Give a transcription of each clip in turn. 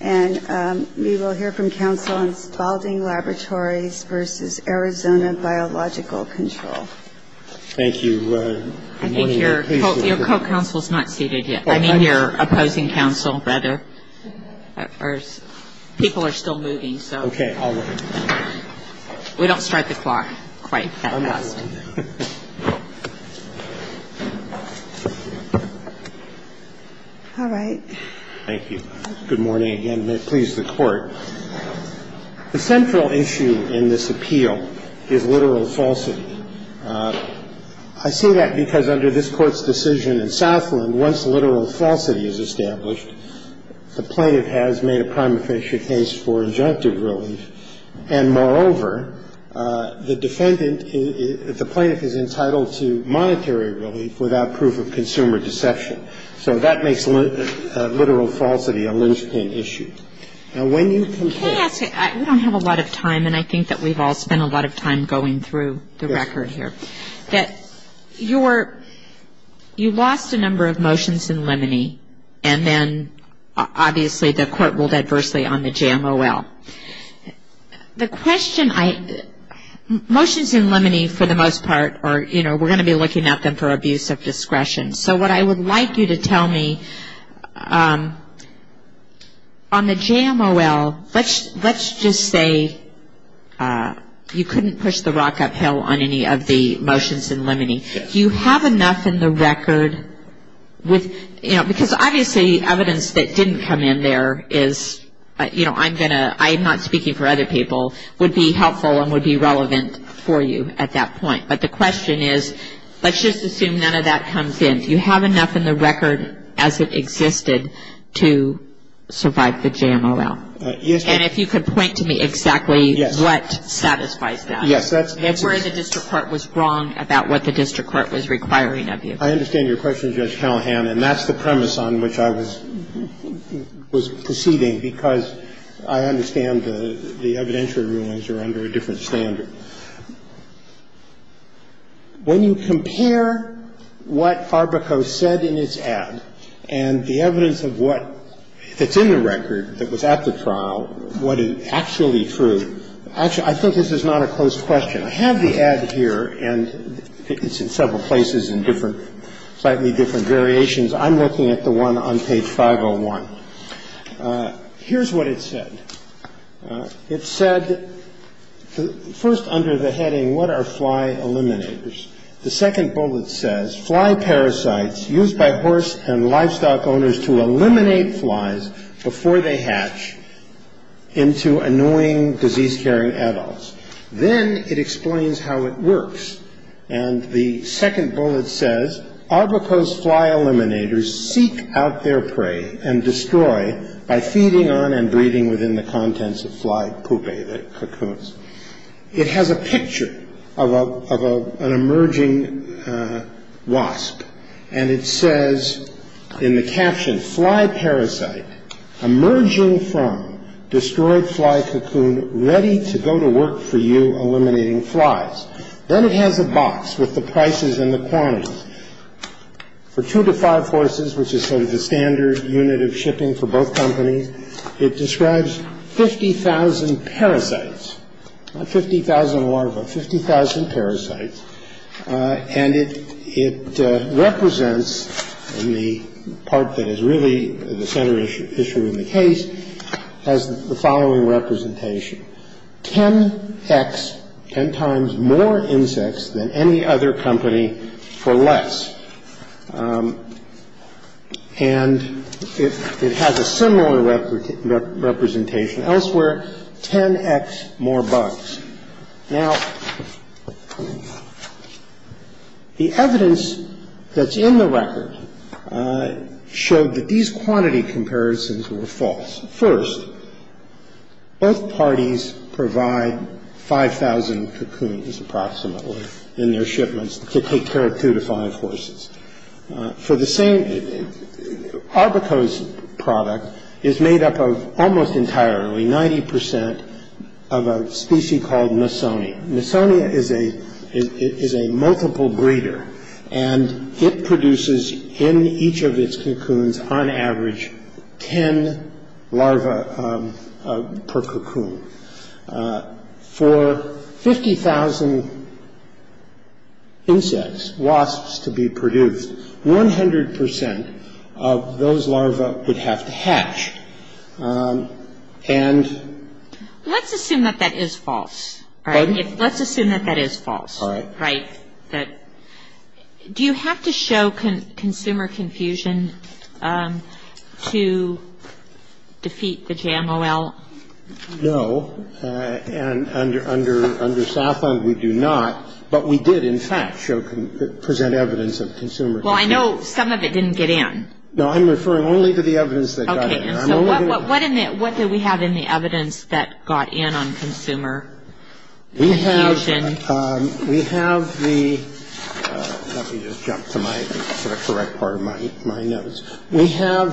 And we will hear from counsel on Spalding Laboratories versus Arizona Biological Control. Thank you. I think your co-counsel is not seated yet. I mean your opposing counsel, rather. People are still moving, so. Okay, I'll wait. We don't start the clock quite that fast. All right. Thank you. Good morning again. May it please the Court. The central issue in this appeal is literal falsity. I say that because under this Court's decision in Southland, once literal falsity is established, the plaintiff has made a prima facie case for injunctive relief. And moreover, the defendant, the plaintiff is entitled to monetary relief without proof of consumer deception. So that makes literal falsity a loose pin issue. Now, when you compare Can I ask you, we don't have a lot of time, and I think that we've all spent a lot of time going through the record here, that you're, you lost a number of motions in limine, and then obviously the Court ruled adversely on the JMOL. The question I, motions in limine for the most part are, you know, we're going to be looking at them for abuse of discretion. So what I would like you to tell me, on the JMOL, let's just say you couldn't push the rock uphill on any of the motions in limine. Do you have enough in the record with, you know, because obviously evidence that didn't come in there is, you know, I'm going to, I'm not speaking for other people, would be helpful and would be relevant for you at that point. But the question is, let's just assume none of that comes in. Do you have enough in the record as it existed to survive the JMOL? Yes. And if you could point to me exactly what satisfies that. Yes. That's where the district court was wrong about what the district court was requiring of you. I understand your question, Judge Callahan, and that's the premise on which I was proceeding, because I understand the evidentiary rulings are under a different standard. When you compare what Farbico said in its ad and the evidence of what is in the record that was at the trial, what is actually true, actually, I think this is not a closed question. I have the ad here, and it's in several places in different, slightly different variations. I'm looking at the one on page 501. Here's what it said. It said first under the heading, what are fly eliminators? The second bullet says, fly parasites used by horse and livestock owners to eliminate flies before they hatch into annoying, disease-carrying adults. Then it explains how it works. And the second bullet says, Arbico's fly eliminators seek out their prey and destroy by feeding on and breeding within the contents of fly poopy cocoons. It has a picture of an emerging wasp, and it says in the caption, fly parasite emerging from destroyed fly cocoon ready to go to work for you eliminating flies. Then it has a box with the prices and the quantities. For two to five horses, which is sort of the standard unit of shipping for both companies, it describes 50,000 parasites, not 50,000 larvae, 50,000 parasites. And it represents, in the part that is really the center issue in the case, has the following representation, 10x, 10 times more insects than any other company for less. And it has a similar representation elsewhere, 10x more bugs. Now, the evidence that's in the record showed that these quantity comparisons were false. First, both parties provide 5,000 cocoons, approximately, in their shipments to take care of two to five horses. For the same, Arbico's product is made up of almost entirely, 90% of a species called nisoni. Nisoni is a multiple breeder, and it produces in each of its cocoons, on average, 10 larvae per cocoon. For 50,000 insects, wasps, to be produced, 100% of those larvae would have to hatch. And... Let's assume that that is false. Pardon? Let's assume that that is false. All right. Right. Do you have to show consumer confusion to defeat the JMOL? No. And under Southland, we do not. But we did, in fact, present evidence of consumer confusion. Well, I know some of it didn't get in. No, I'm referring only to the evidence that got in. Okay. And so what did we have in the evidence that got in on consumer confusion? We have the... Let me just jump to the correct part of my notes. We have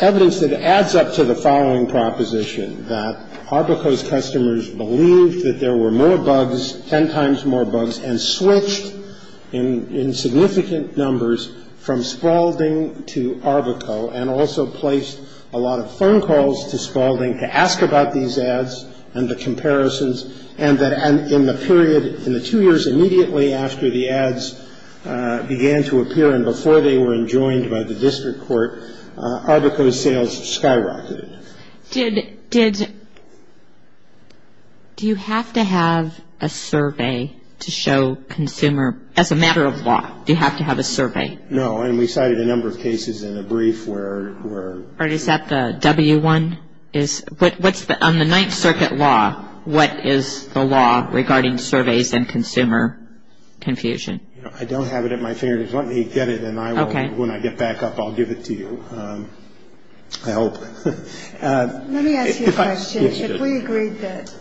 evidence that adds up to the following proposition, that Arbico's customers believed that there were more bugs, 10 times more bugs, and switched in significant numbers from Spaulding to Arbico and also placed a lot of phone calls to Spaulding to ask about these ads and the comparisons, and that in the period, in the two years immediately after the ads began to appear and before they were enjoined by the district court, Arbico's sales skyrocketed. Did... Do you have to have a survey to show consumer... As a matter of law, do you have to have a survey? No, and we cited a number of cases in a brief where... Or is that the W1? On the Ninth Circuit law, what is the law regarding surveys and consumer confusion? I don't have it at my fingertips. Let me get it, and when I get back up, I'll give it to you. I hope. Let me ask you a question. If we agreed that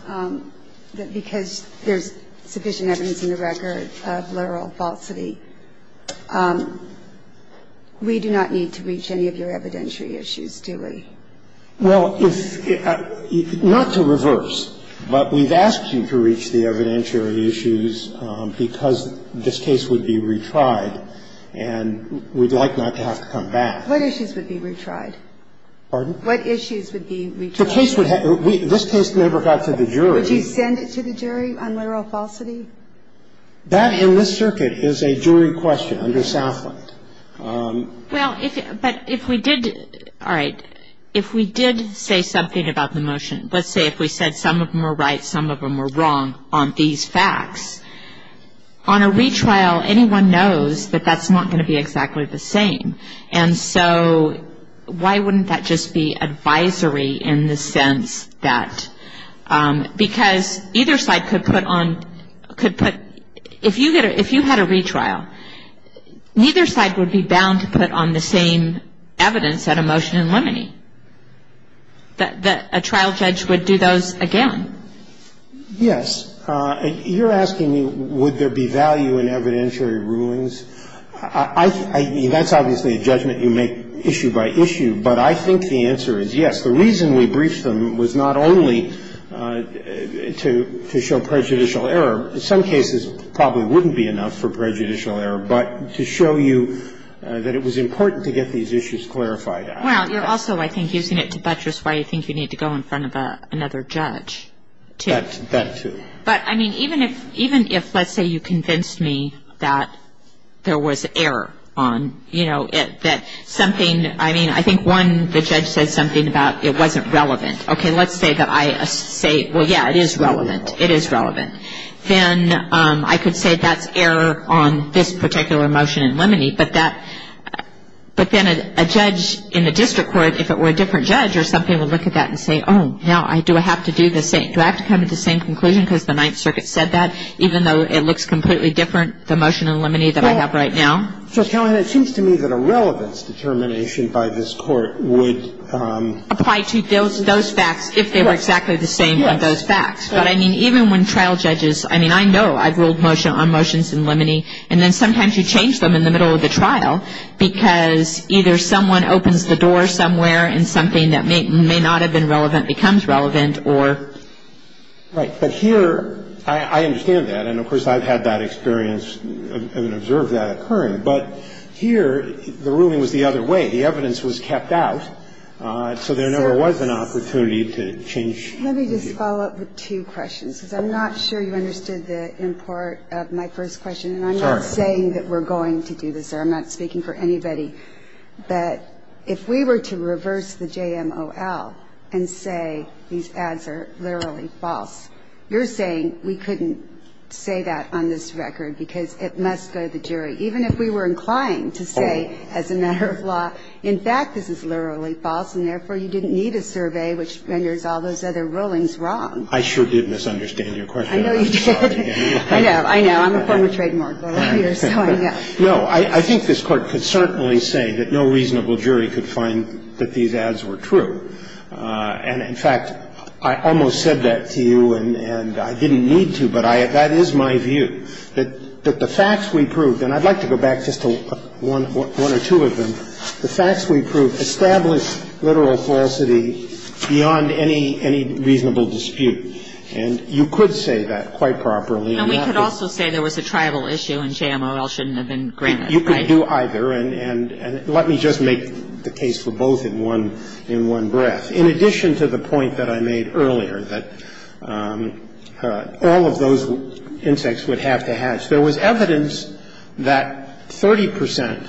because there's sufficient evidence in the record of literal falsity, we do not need to reach any of your evidentiary issues, do we? Well, not to reverse, but we've asked you to reach the evidentiary issues because this case would be retried, and we'd like not to have to come back. What issues would be retried? Pardon? What issues would be retried? The case would have... This case never got to the jury. Would you send it to the jury on literal falsity? That, in this circuit, is a jury question under Southland. Well, but if we did... All right. If we did say something about the motion, let's say if we said some of them were right, some of them were wrong on these facts, on a retrial, anyone knows that that's not going to be exactly the same. And so why wouldn't that just be advisory in the sense that... Because either side could put on... If you had a retrial, neither side would be bound to put on the same evidence at a motion in limine. A trial judge would do those again. Yes. You're asking me would there be value in evidentiary rulings. I mean, that's obviously a judgment you make issue by issue, but I think the answer is yes. The reason we briefed them was not only to show prejudicial error. In some cases, probably wouldn't be enough for prejudicial error, but to show you that it was important to get these issues clarified. Well, you're also, I think, using it to buttress why you think you need to go in front of another judge, too. That, too. But, I mean, even if, let's say, you convinced me that there was error on, you know, that something... I mean, I think, one, the judge said something about it wasn't relevant. Okay, let's say that I say, well, yeah, it is relevant. It is relevant. Then I could say that's error on this particular motion in limine, but that... But then a judge in the district court, if it were a different judge or something, would look at that and say, oh, now do I have to do the same? Well, you will have to. I mean, I think that's the reason my conclusion, because the Ninth Circuit said that, even though it looks completely different, the motion in limine that I have right now. So, Kellyn, it seems to me that a relevance determination by this Court would... Apply to those facts, if they were exactly the same with those facts. Yes. But, I mean, even when trial judges... I mean, I know I've ruled on motions in limine, and then sometimes you change them in the middle of the trial because either someone opens the door somewhere and something that may not have been relevant becomes relevant or... Right. But here, I understand that. And, of course, I've had that experience and observed that occurring. But here, the ruling was the other way. The evidence was kept out, so there never was an opportunity to change... Let me just follow up with two questions, because I'm not sure you understood the import of my first question. And I'm not saying that we're going to do this. I'm not speaking for anybody. But if we were to reverse the JMOL and say these ads are literally false, you're saying we couldn't say that on this record because it must go to the jury, even if we were inclined to say as a matter of law, in fact, this is literally false, and therefore you didn't need a survey, which renders all those other rulings wrong. I sure did misunderstand your question. I know you did. I know. I know. I'm a former trademark lawyer, so I know. No. I think this Court could certainly say that no reasonable jury could find that these ads were true. And, in fact, I almost said that to you, and I didn't need to, but that is my view, that the facts we proved, and I'd like to go back just to one or two of them. The facts we proved established literal falsity beyond any reasonable dispute. And you could say that quite properly. And we could also say there was a tribal issue and JMOL shouldn't have been granted. You could do either. And let me just make the case for both in one breath. In addition to the point that I made earlier, that all of those insects would have to hatch, there was evidence that 30 percent,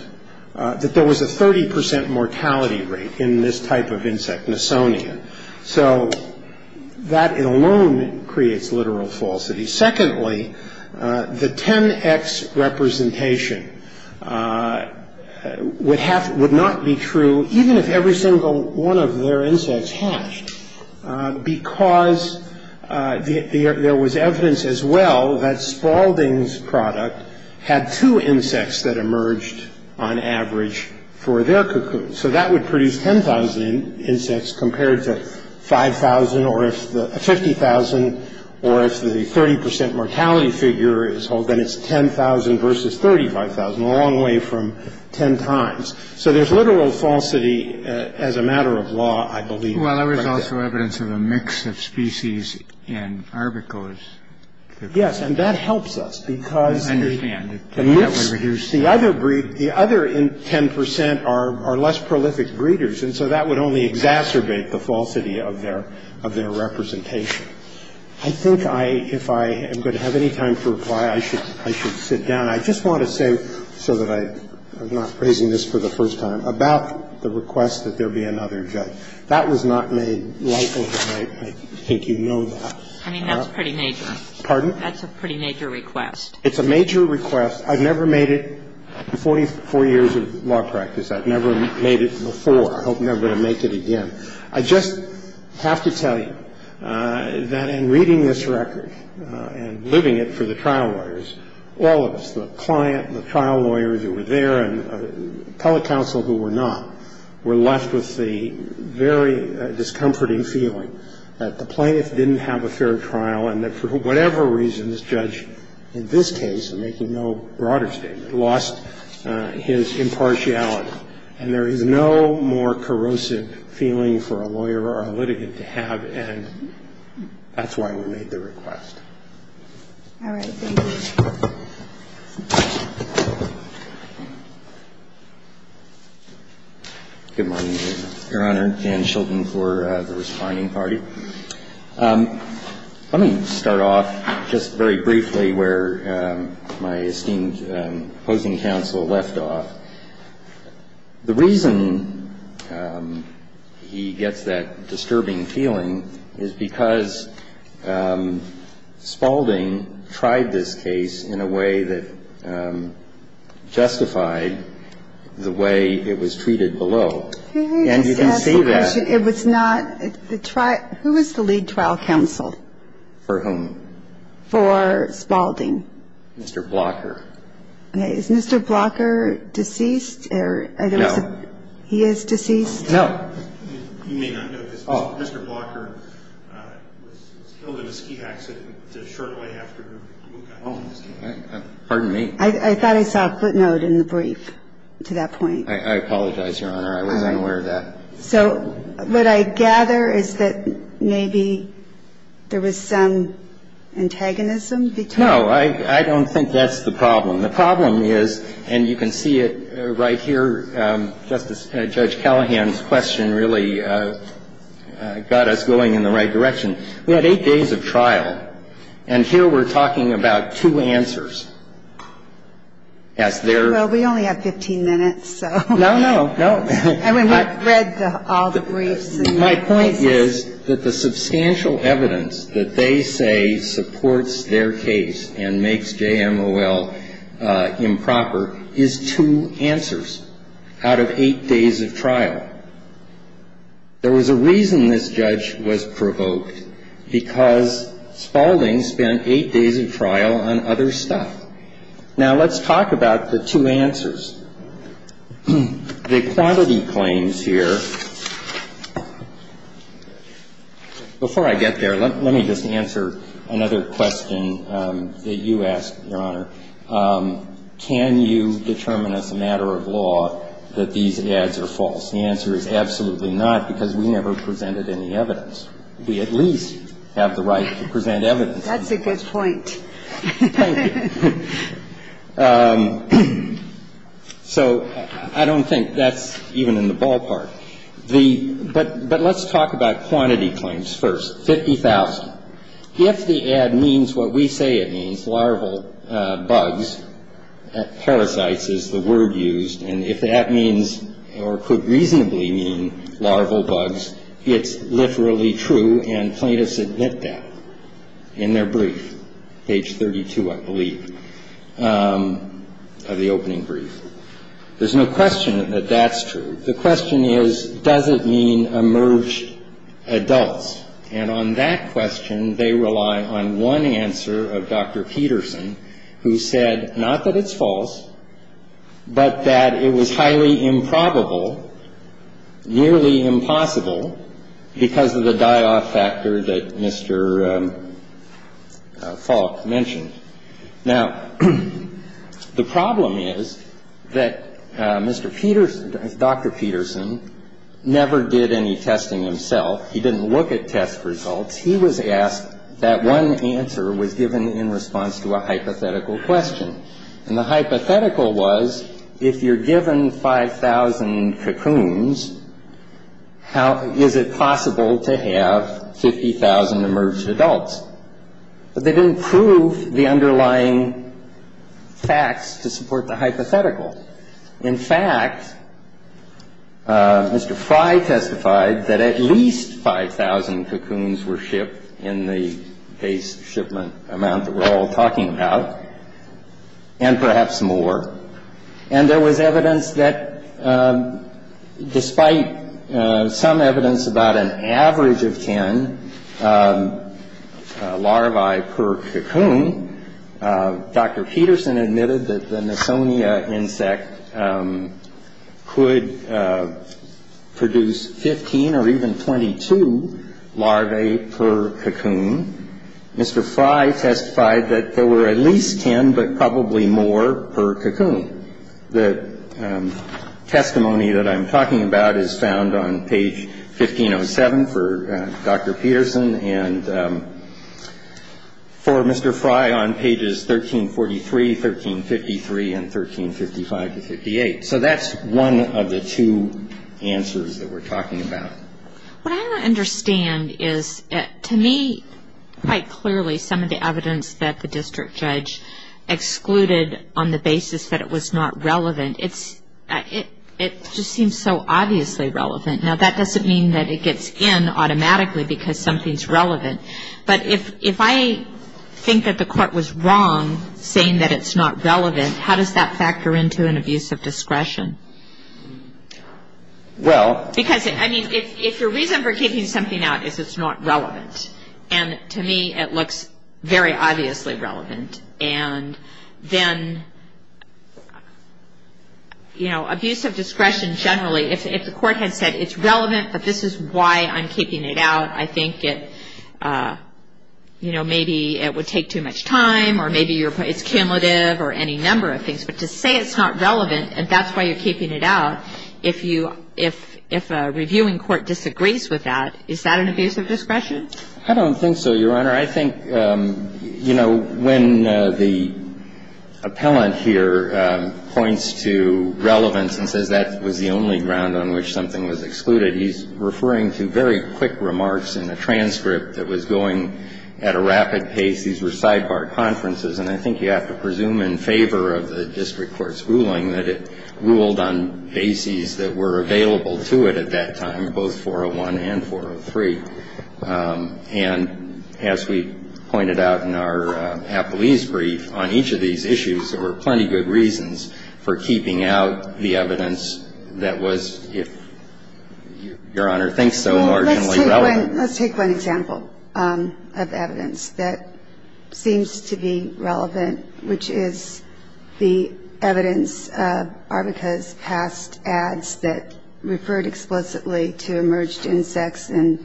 that there was a 30 percent mortality rate in this type of insect, Nasonian. So that alone creates literal falsity. Secondly, the 10X representation would not be true even if every single one of their insects hatched, because there was evidence as well that Spalding's product had two insects that emerged on average for their cocoon. So that would produce 10,000 insects compared to 5,000 or if the 50,000 or if the 30 percent mortality figure is 10,000 versus 35,000, a long way from 10 times. So there's literal falsity as a matter of law, I believe. Well, there was also evidence of a mix of species in Arbicose. Yes, and that helps us because the other breed, the other 10 percent are less prolific breeders. And so that would only exacerbate the falsity of their representation. I think if I am going to have any time to reply, I should sit down. I just want to say, so that I'm not phrasing this for the first time, about the request that there be another judge. That was not made lightly. I think you know that. I mean, that's pretty major. Pardon? That's a pretty major request. It's a major request. I've never made it in 44 years of law practice. I've never made it before. I hope never to make it again. I just have to tell you that in reading this record and living it for the trial lawyers, all of us, the client, the trial lawyers who were there and appellate counsel who were not, were left with the very discomforting feeling that the plaintiff didn't have a fair trial and that for whatever reason this judge in this case, making no broader statement, lost his impartiality. And there is no more corrosive feeling for a lawyer or a litigant to have, and that's why we made the request. All right. Thank you. Good morning, Your Honor. Jan Shilton for the responding party. Let me start off just very briefly where my esteemed opposing counsel left off. The reason he gets that disturbing feeling is because Spaulding tried this case in a way that justified the way it was treated below. And you can see that. Can I just ask a question? It was not the trial – who was the lead trial counsel? For whom? For Spaulding. Mr. Blocker. Okay. Is Mr. Blocker deceased? No. He is deceased? No. You may not know this. Mr. Blocker was killed in a ski accident a short way after. Pardon me? I thought I saw a footnote in the brief to that point. I apologize, Your Honor. I was unaware of that. So what I gather is that maybe there was some antagonism between – No, I don't think that's the problem. The problem is, and you can see it right here, Justice – Judge Callahan's question really got us going in the right direction. We had eight days of trial. And here we're talking about two answers. Well, we only have 15 minutes, so. No, no, no. I mean, we've read all the briefs. My point is that the substantial evidence that they say supports their case and makes JMOL improper is two answers out of eight days of trial. There was a reason this judge was provoked, because Spaulding spent eight days of trial on other stuff. Now, let's talk about the two answers. The quantity claims here – before I get there, let me just answer another question that you asked, Your Honor. Can you determine as a matter of law that these ads are false? The answer is absolutely not, because we never presented any evidence. We at least have the right to present evidence. That's a good point. Thank you. So I don't think that's even in the ballpark. But let's talk about quantity claims first. Fifty thousand. If the ad means what we say it means, larval bugs – parasites is the word used – and if that means or could reasonably mean larval bugs, it's literally true, and plaintiffs admit that in their brief, page 32, I believe. The opening brief. There's no question that that's true. The question is, does it mean emerged adults? And on that question, they rely on one answer of Dr. Peterson, who said not that it's false, but that it was highly improbable, nearly impossible, because of the die-off factor that Mr. Falk mentioned. Now, the problem is that Mr. Peterson – Dr. Peterson never did any testing himself. He didn't look at test results. He was asked – that one answer was given in response to a hypothetical question. And the hypothetical was, if you're given 5,000 cocoons, how – is it possible to have 50,000 emerged adults? But they didn't prove the underlying facts to support the hypothetical. In fact, Mr. Fry testified that at least 5,000 cocoons were shipped in the case shipment amount that we're all talking about, and perhaps more. And there was evidence that despite some evidence about an average of 10 larvae per cocoon, Dr. Peterson admitted that the Nessonia insect could produce 15 or even 22 larvae per cocoon. Mr. Fry testified that there were at least 10, but probably more, per cocoon. The testimony that I'm talking about is found on page 1507 for Dr. Peterson and for Mr. Fry on pages 1343, 1353, and 1355-58. So that's one of the two answers that we're talking about. What I don't understand is, to me, quite clearly, some of the evidence that the district judge excluded on the basis that it was not relevant, it just seems so obviously relevant. Now, that doesn't mean that it gets in automatically because something's relevant. But if I think that the court was wrong saying that it's not relevant, how does that factor into an abuse of discretion? Because, I mean, if your reason for keeping something out is it's not relevant, and to me it looks very obviously relevant, and then, you know, abuse of discretion generally, if the court had said it's relevant but this is why I'm keeping it out, I think it, you know, maybe it would take too much time or maybe it's cumulative or any number of things. But to say it's not relevant and that's why you're keeping it out, if you – if a reviewing court disagrees with that, is that an abuse of discretion? I don't think so, Your Honor. I think, you know, when the appellant here points to relevance and says that was the only ground on which something was excluded, he's referring to very quick remarks in the transcript that was going at a rapid pace. These were sidebar conferences, and I think you have to presume in favor of the district court's ruling that it ruled on bases that were available to it at that time, both 401 and 403. And as we pointed out in our appellee's brief, on each of these issues, there were plenty of good reasons for keeping out the evidence that was, if Your Honor thinks so, marginally relevant. Let's take one example of evidence that seems to be relevant, which is the evidence of Arvika's past ads that referred explicitly to emerged insects and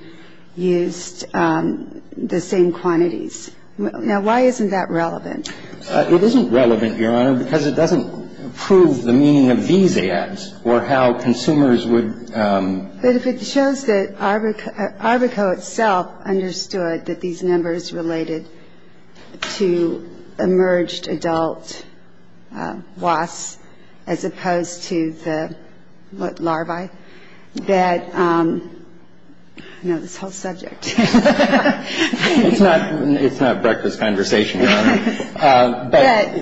used the same quantities. Now, why isn't that relevant? It isn't relevant, Your Honor, because it doesn't prove the meaning of these ads or how consumers would – But if it shows that Arvika itself understood that these numbers related to emerged adult wasps as opposed to the, what, larvae, that – I know this whole subject. It's not breakfast conversation, Your Honor. But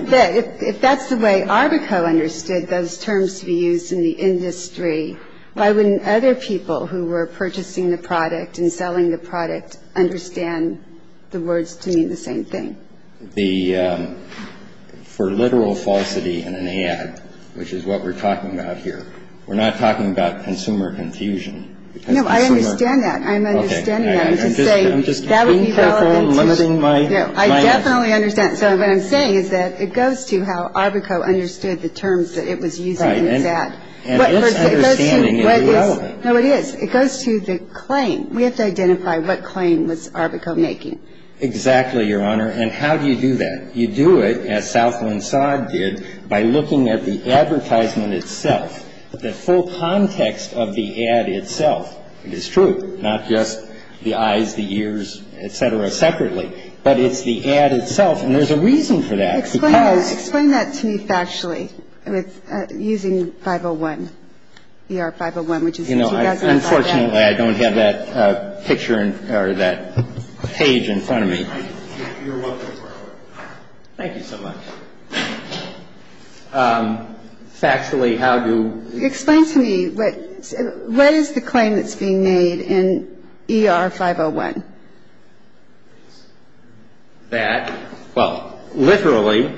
if that's the way Arvika understood those terms to be used in the industry, why wouldn't other people who were purchasing the product and selling the product understand the words to mean the same thing? The – for literal falsity in an ad, which is what we're talking about here, we're not talking about consumer confusion. No, I understand that. I'm understanding that. I'm just saying that would be relevant. I'm just being careful and limiting my answer. No, I definitely understand. So what I'm saying is that it goes to how Arvika understood the terms that it was using in its ad. Right. And its understanding is relevant. No, it is. It goes to the claim. We have to identify what claim was Arvika making. Exactly, Your Honor. And how do you do that? You do it, as Southland Sod did, by looking at the advertisement itself, the full context of the ad itself. It is true, not just the eyes, the ears, et cetera, separately, but it's the ad itself. And there's a reason for that, because – Explain that to me factually, using 501, ER-501, which is the 2005 ad. You know, unfortunately, I don't have that picture or that page in front of me. You're welcome, Your Honor. Thank you so much. Factually, how do – Explain to me what – what is the claim that's being made in ER-501? That – well, literally,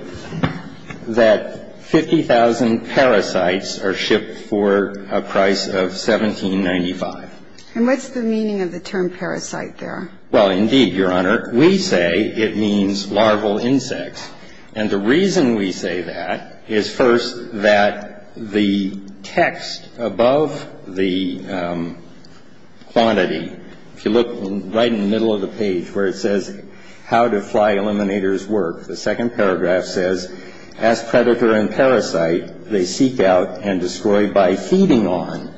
that 50,000 parasites are shipped for a price of $17.95. And what's the meaning of the term parasite there? Well, indeed, Your Honor. We say it means larval insects. And the reason we say that is, first, that the text above the quantity, if you look right in the middle of the page where it says how do fly eliminators work, the second paragraph says, as predator and parasite, they seek out and destroy by feeding on,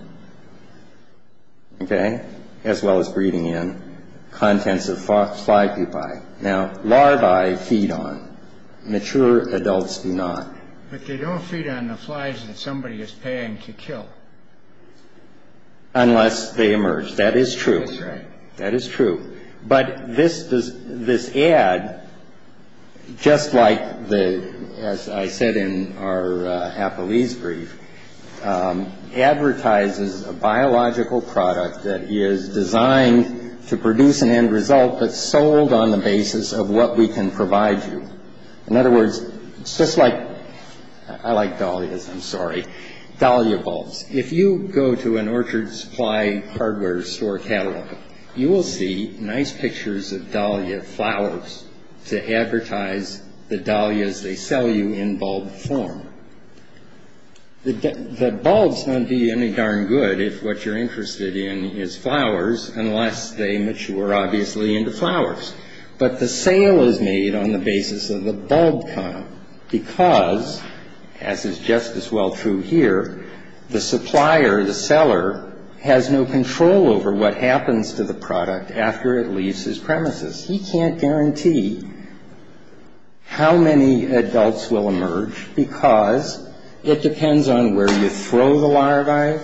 okay, as well as breeding in, contents of fly pupae. Now, larvae feed on. Mature adults do not. But they don't feed on the flies that somebody is paying to kill. Unless they emerge. That is true. That's right. That is true. But this ad, just like the – as I said in our Appleese brief, advertises a biological product that is designed to produce an end result that's sold on the basis of what we can provide you. In other words, it's just like – I like dahlias. I'm sorry. Dahlia bulbs. If you go to an orchard supply hardware store catalog, you will see nice pictures of dahlia flowers to advertise the dahlias they sell you in bulb form. The bulbs don't do you any darn good if what you're interested in is flowers, unless they mature, obviously, into flowers. But the sale is made on the basis of the bulb count because, as is just as well true here, the supplier, the seller, has no control over what happens to the product after it leaves his premises. He can't guarantee how many adults will emerge because it depends on where you throw the larvae,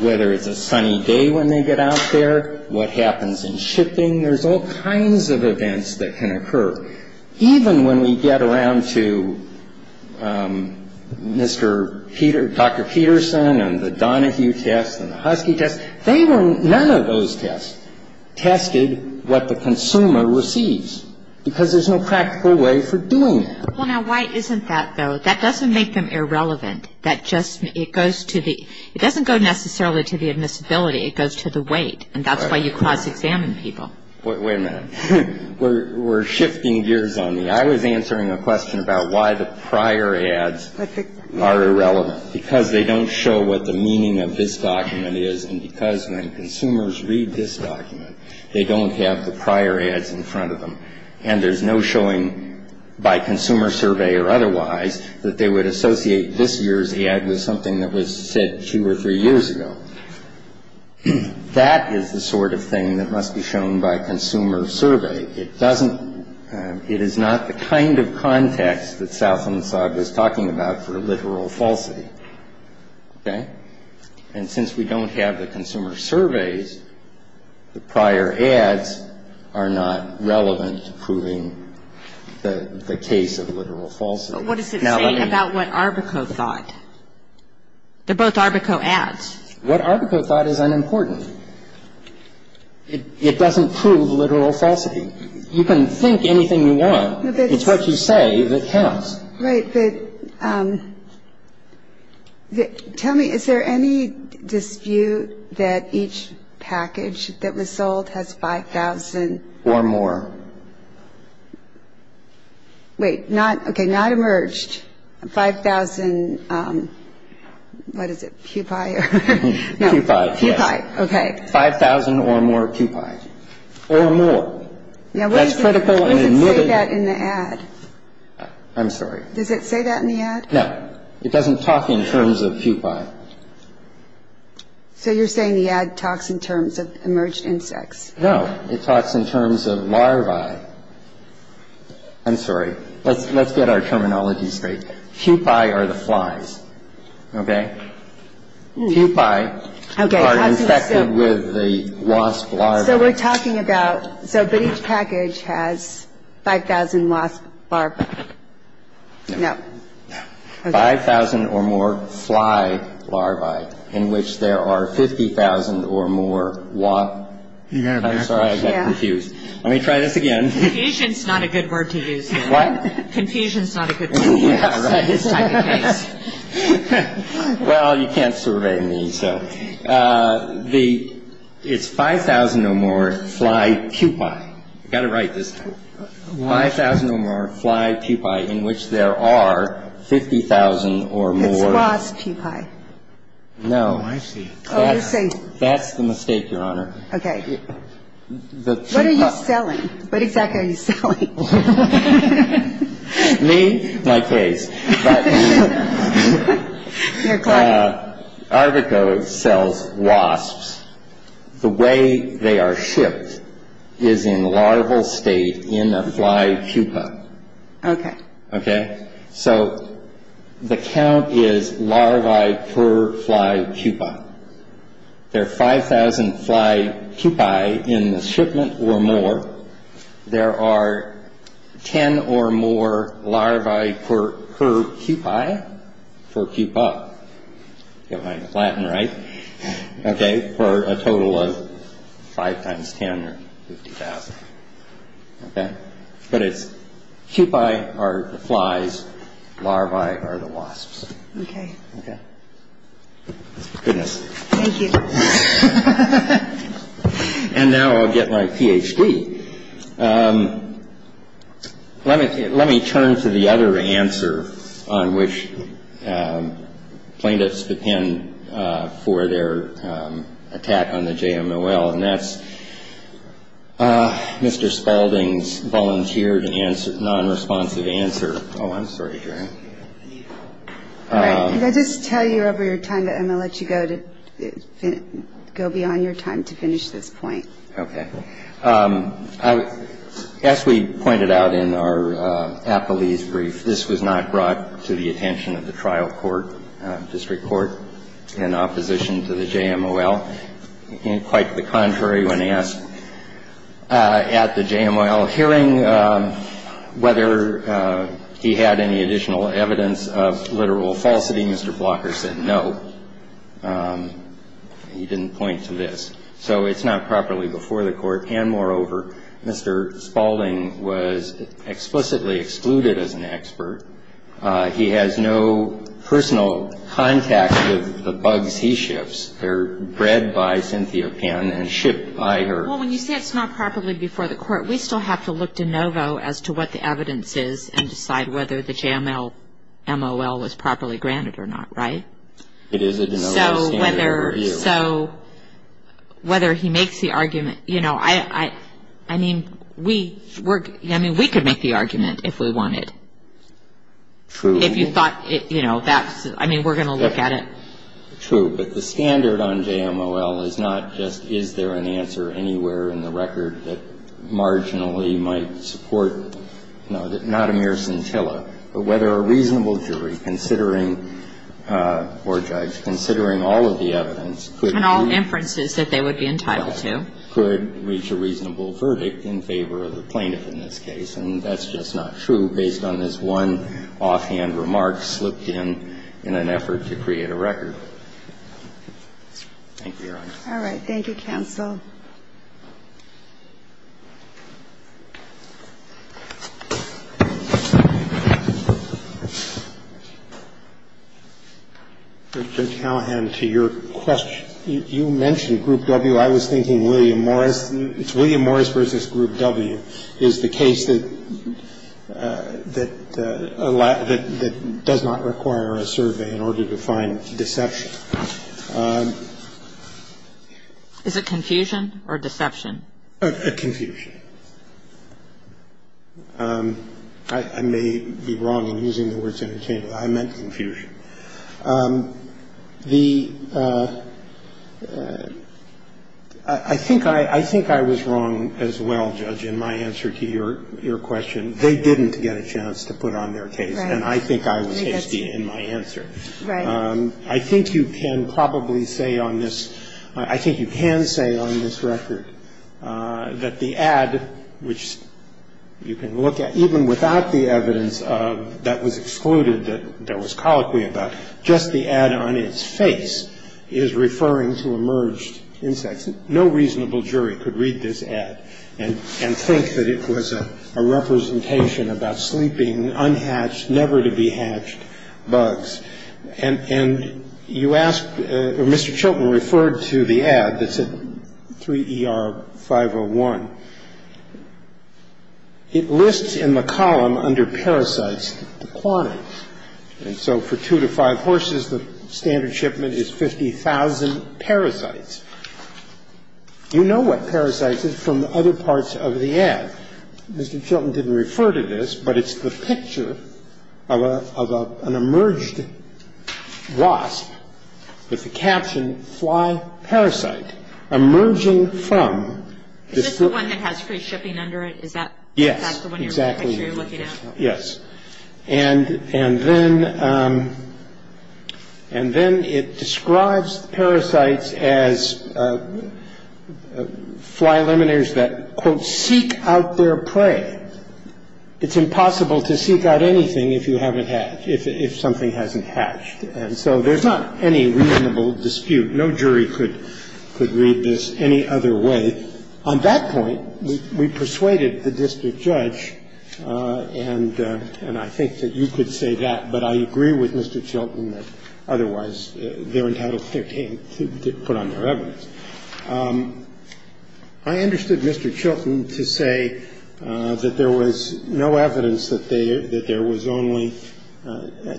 whether it's a sunny day when they get out there, what happens in shipping. There's all kinds of events that can occur. Even when we get around to Dr. Peterson and the Donahue test and the Husky test, none of those tests tested what the consumer receives because there's no practical way for doing that. Well, now, why isn't that, though? That doesn't make them irrelevant. It doesn't go necessarily to the admissibility. It goes to the weight, and that's why you cross-examine people. Wait a minute. We're shifting gears on me. I was answering a question about why the prior ads are irrelevant. Because they don't show what the meaning of this document is, and because when consumers read this document, they don't have the prior ads in front of them, and there's no showing by consumer survey or otherwise that they would associate this year's ad with something that was said two or three years ago. That is the sort of thing that must be shown by consumer survey. It doesn't – it is not the kind of context that Salfonsad was talking about for literal falsity. Okay? And since we don't have the consumer surveys, the prior ads are not relevant to proving the case of literal falsity. But what does it say about what Arbico thought? They're both Arbico ads. What Arbico thought is unimportant. It doesn't prove literal falsity. You can think anything you want. It's what you say that counts. Right, but tell me, is there any dispute that each package that was sold has 5,000? Or more. Wait, not – okay, not emerged. 5,000 – what is it, pupae? Pupae, yes. Pupae, okay. 5,000 or more pupae. Or more. Now, when does it say that in the ad? I'm sorry? Does it say that in the ad? No. It doesn't talk in terms of pupae. So you're saying the ad talks in terms of emerged insects? No. It talks in terms of larvae. I'm sorry. Let's get our terminology straight. Pupae are the flies, okay? Pupae are infected with the wasp larvae. So we're talking about – so each package has 5,000 wasp larvae. No. No. 5,000 or more fly larvae in which there are 50,000 or more wasp – I'm sorry, I got confused. Let me try this again. Confusion's not a good word to use here. What? Confusion's not a good word to use in this type of case. Well, you can't survey me, so – it's 5,000 or more fly pupae. I got it right this time. 5,000 or more fly pupae in which there are 50,000 or more – It's wasp pupae. No. Oh, I see. That's the mistake, Your Honor. Okay. What are you selling? What exactly are you selling? Me? My case. But – Your client. Arvico sells wasps. The way they are shipped is in larval state in a fly pupae. Okay. Okay? So the count is larvae per fly pupae. There are 5,000 fly pupae in the shipment or more. There are 10 or more larvae per pupae. For pupae. If I'm Latin right. Okay, for a total of 5 times 10 or 50,000. Okay? But it's pupae are the flies, larvae are the wasps. Okay. Okay? Goodness. Thank you. And now I'll get my Ph.D. Let me turn to the other answer on which plaintiffs depend for their attack on the JMOL, and that's Mr. Spalding's volunteer non-responsive answer. Oh, I'm sorry, Your Honor. All right. Did I just tell you over your time that I'm going to let you go beyond your time to finish this point? Okay. As we pointed out in our appellee's brief, this was not brought to the attention of the trial court, district court, in opposition to the JMOL. Quite the contrary when asked at the JMOL hearing whether he had any additional evidence of literal falsity, Mr. Blocker said no. He didn't point to this. So it's not properly before the court. And moreover, Mr. Spalding was explicitly excluded as an expert. He has no personal contact with the bugs he shifts. They're bred by Cynthia Pan and shipped by her. Well, when you say it's not properly before the court, we still have to look de novo as to what the evidence is and decide whether the JMOL was properly granted or not, right? It is a de novo standard review. So whether he makes the argument, you know, I mean, we could make the argument if we wanted. True. If you thought, you know, that's, I mean, we're going to look at it. True. But the standard on JMOL is not just is there an answer anywhere in the record that marginally might support, you know, not a mere scintilla, but whether a reasonable jury considering or judge considering all of the evidence could reach a reasonable verdict in favor of the plaintiff in this case. And so I think it's a common sense argument that the JMOL is not a standard It's a standard review based on this one offhand remark slipped in, in an effort to create a record. Thank you, Your Honor. All right. Thank you, counsel. Mr. Callahan, to your question, you mentioned Group W. I was thinking William Morris. It's William Morris v. Group W is the case that does not require a survey in order to find deception. Is it confusion? Confusion or deception? Confusion. I may be wrong in using the words interchangeably. I meant confusion. The – I think I was wrong as well, Judge, in my answer to your question. They didn't get a chance to put on their case, and I think I was hasty in my answer. Right. I think you can probably say on this – I think you can say on this record that the ad, which you can look at, even without the evidence that was excluded, that was colloquy about, just the ad on its face is referring to emerged insects. No reasonable jury could read this ad and think that it was a representation about sleeping, unhatched, never-to-be-hatched bugs. And you asked – or Mr. Chilton referred to the ad that said 3ER501. It lists in the column under parasites the quantities. And so for two to five horses, the standard shipment is 50,000 parasites. You know what parasites is from other parts of the ad. And so the ad is a representation of an emerged wasp. Now, Mr. Chilton didn't refer to this, but it's the picture of an emerged wasp with the caption fly parasite emerging from the – Is this the one that has free shipping under it? Is that – Yes. Exactly. That's the one you're looking at? Yes. And then it describes parasites as fly laminaries that, quote, seek out their prey. It's impossible to seek out anything if you haven't hatched, if something hasn't hatched. And so there's not any reasonable dispute. No jury could read this any other way. On that point, we persuaded the district judge, and I think that you could say that, but I agree with Mr. Chilton that otherwise they're entitled to put on their evidence. I understood Mr. Chilton to say that there was no evidence that there was only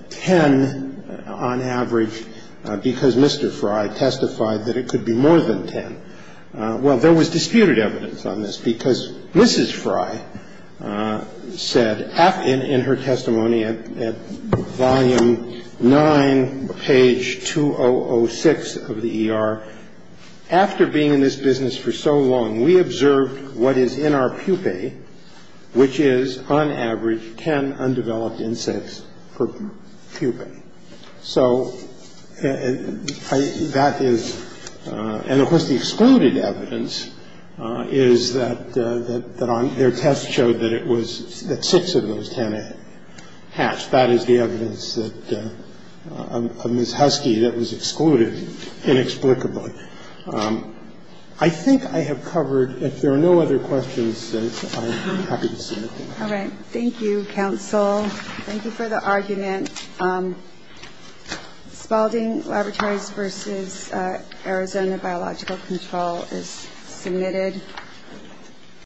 10 on average because Mr. Fry testified that it could be more than 10. Well, there was disputed evidence on this because Mrs. Fry said in her testimony at volume 9, page 2006 of the ER, after being in this business for so long, we observed what is in our pupae, which is on average 10 undeveloped insects per pupae. So that is – and, of course, the excluded evidence is that on their test showed that it was – that six of those 10 hatched. That is the evidence that – of Ms. Husky that was excluded inexplicably. I think I have covered – if there are no other questions, I'm happy to see you. All right. Thank you, counsel. Thank you for the argument. Spalding Laboratories v. Arizona Biological Control is submitted.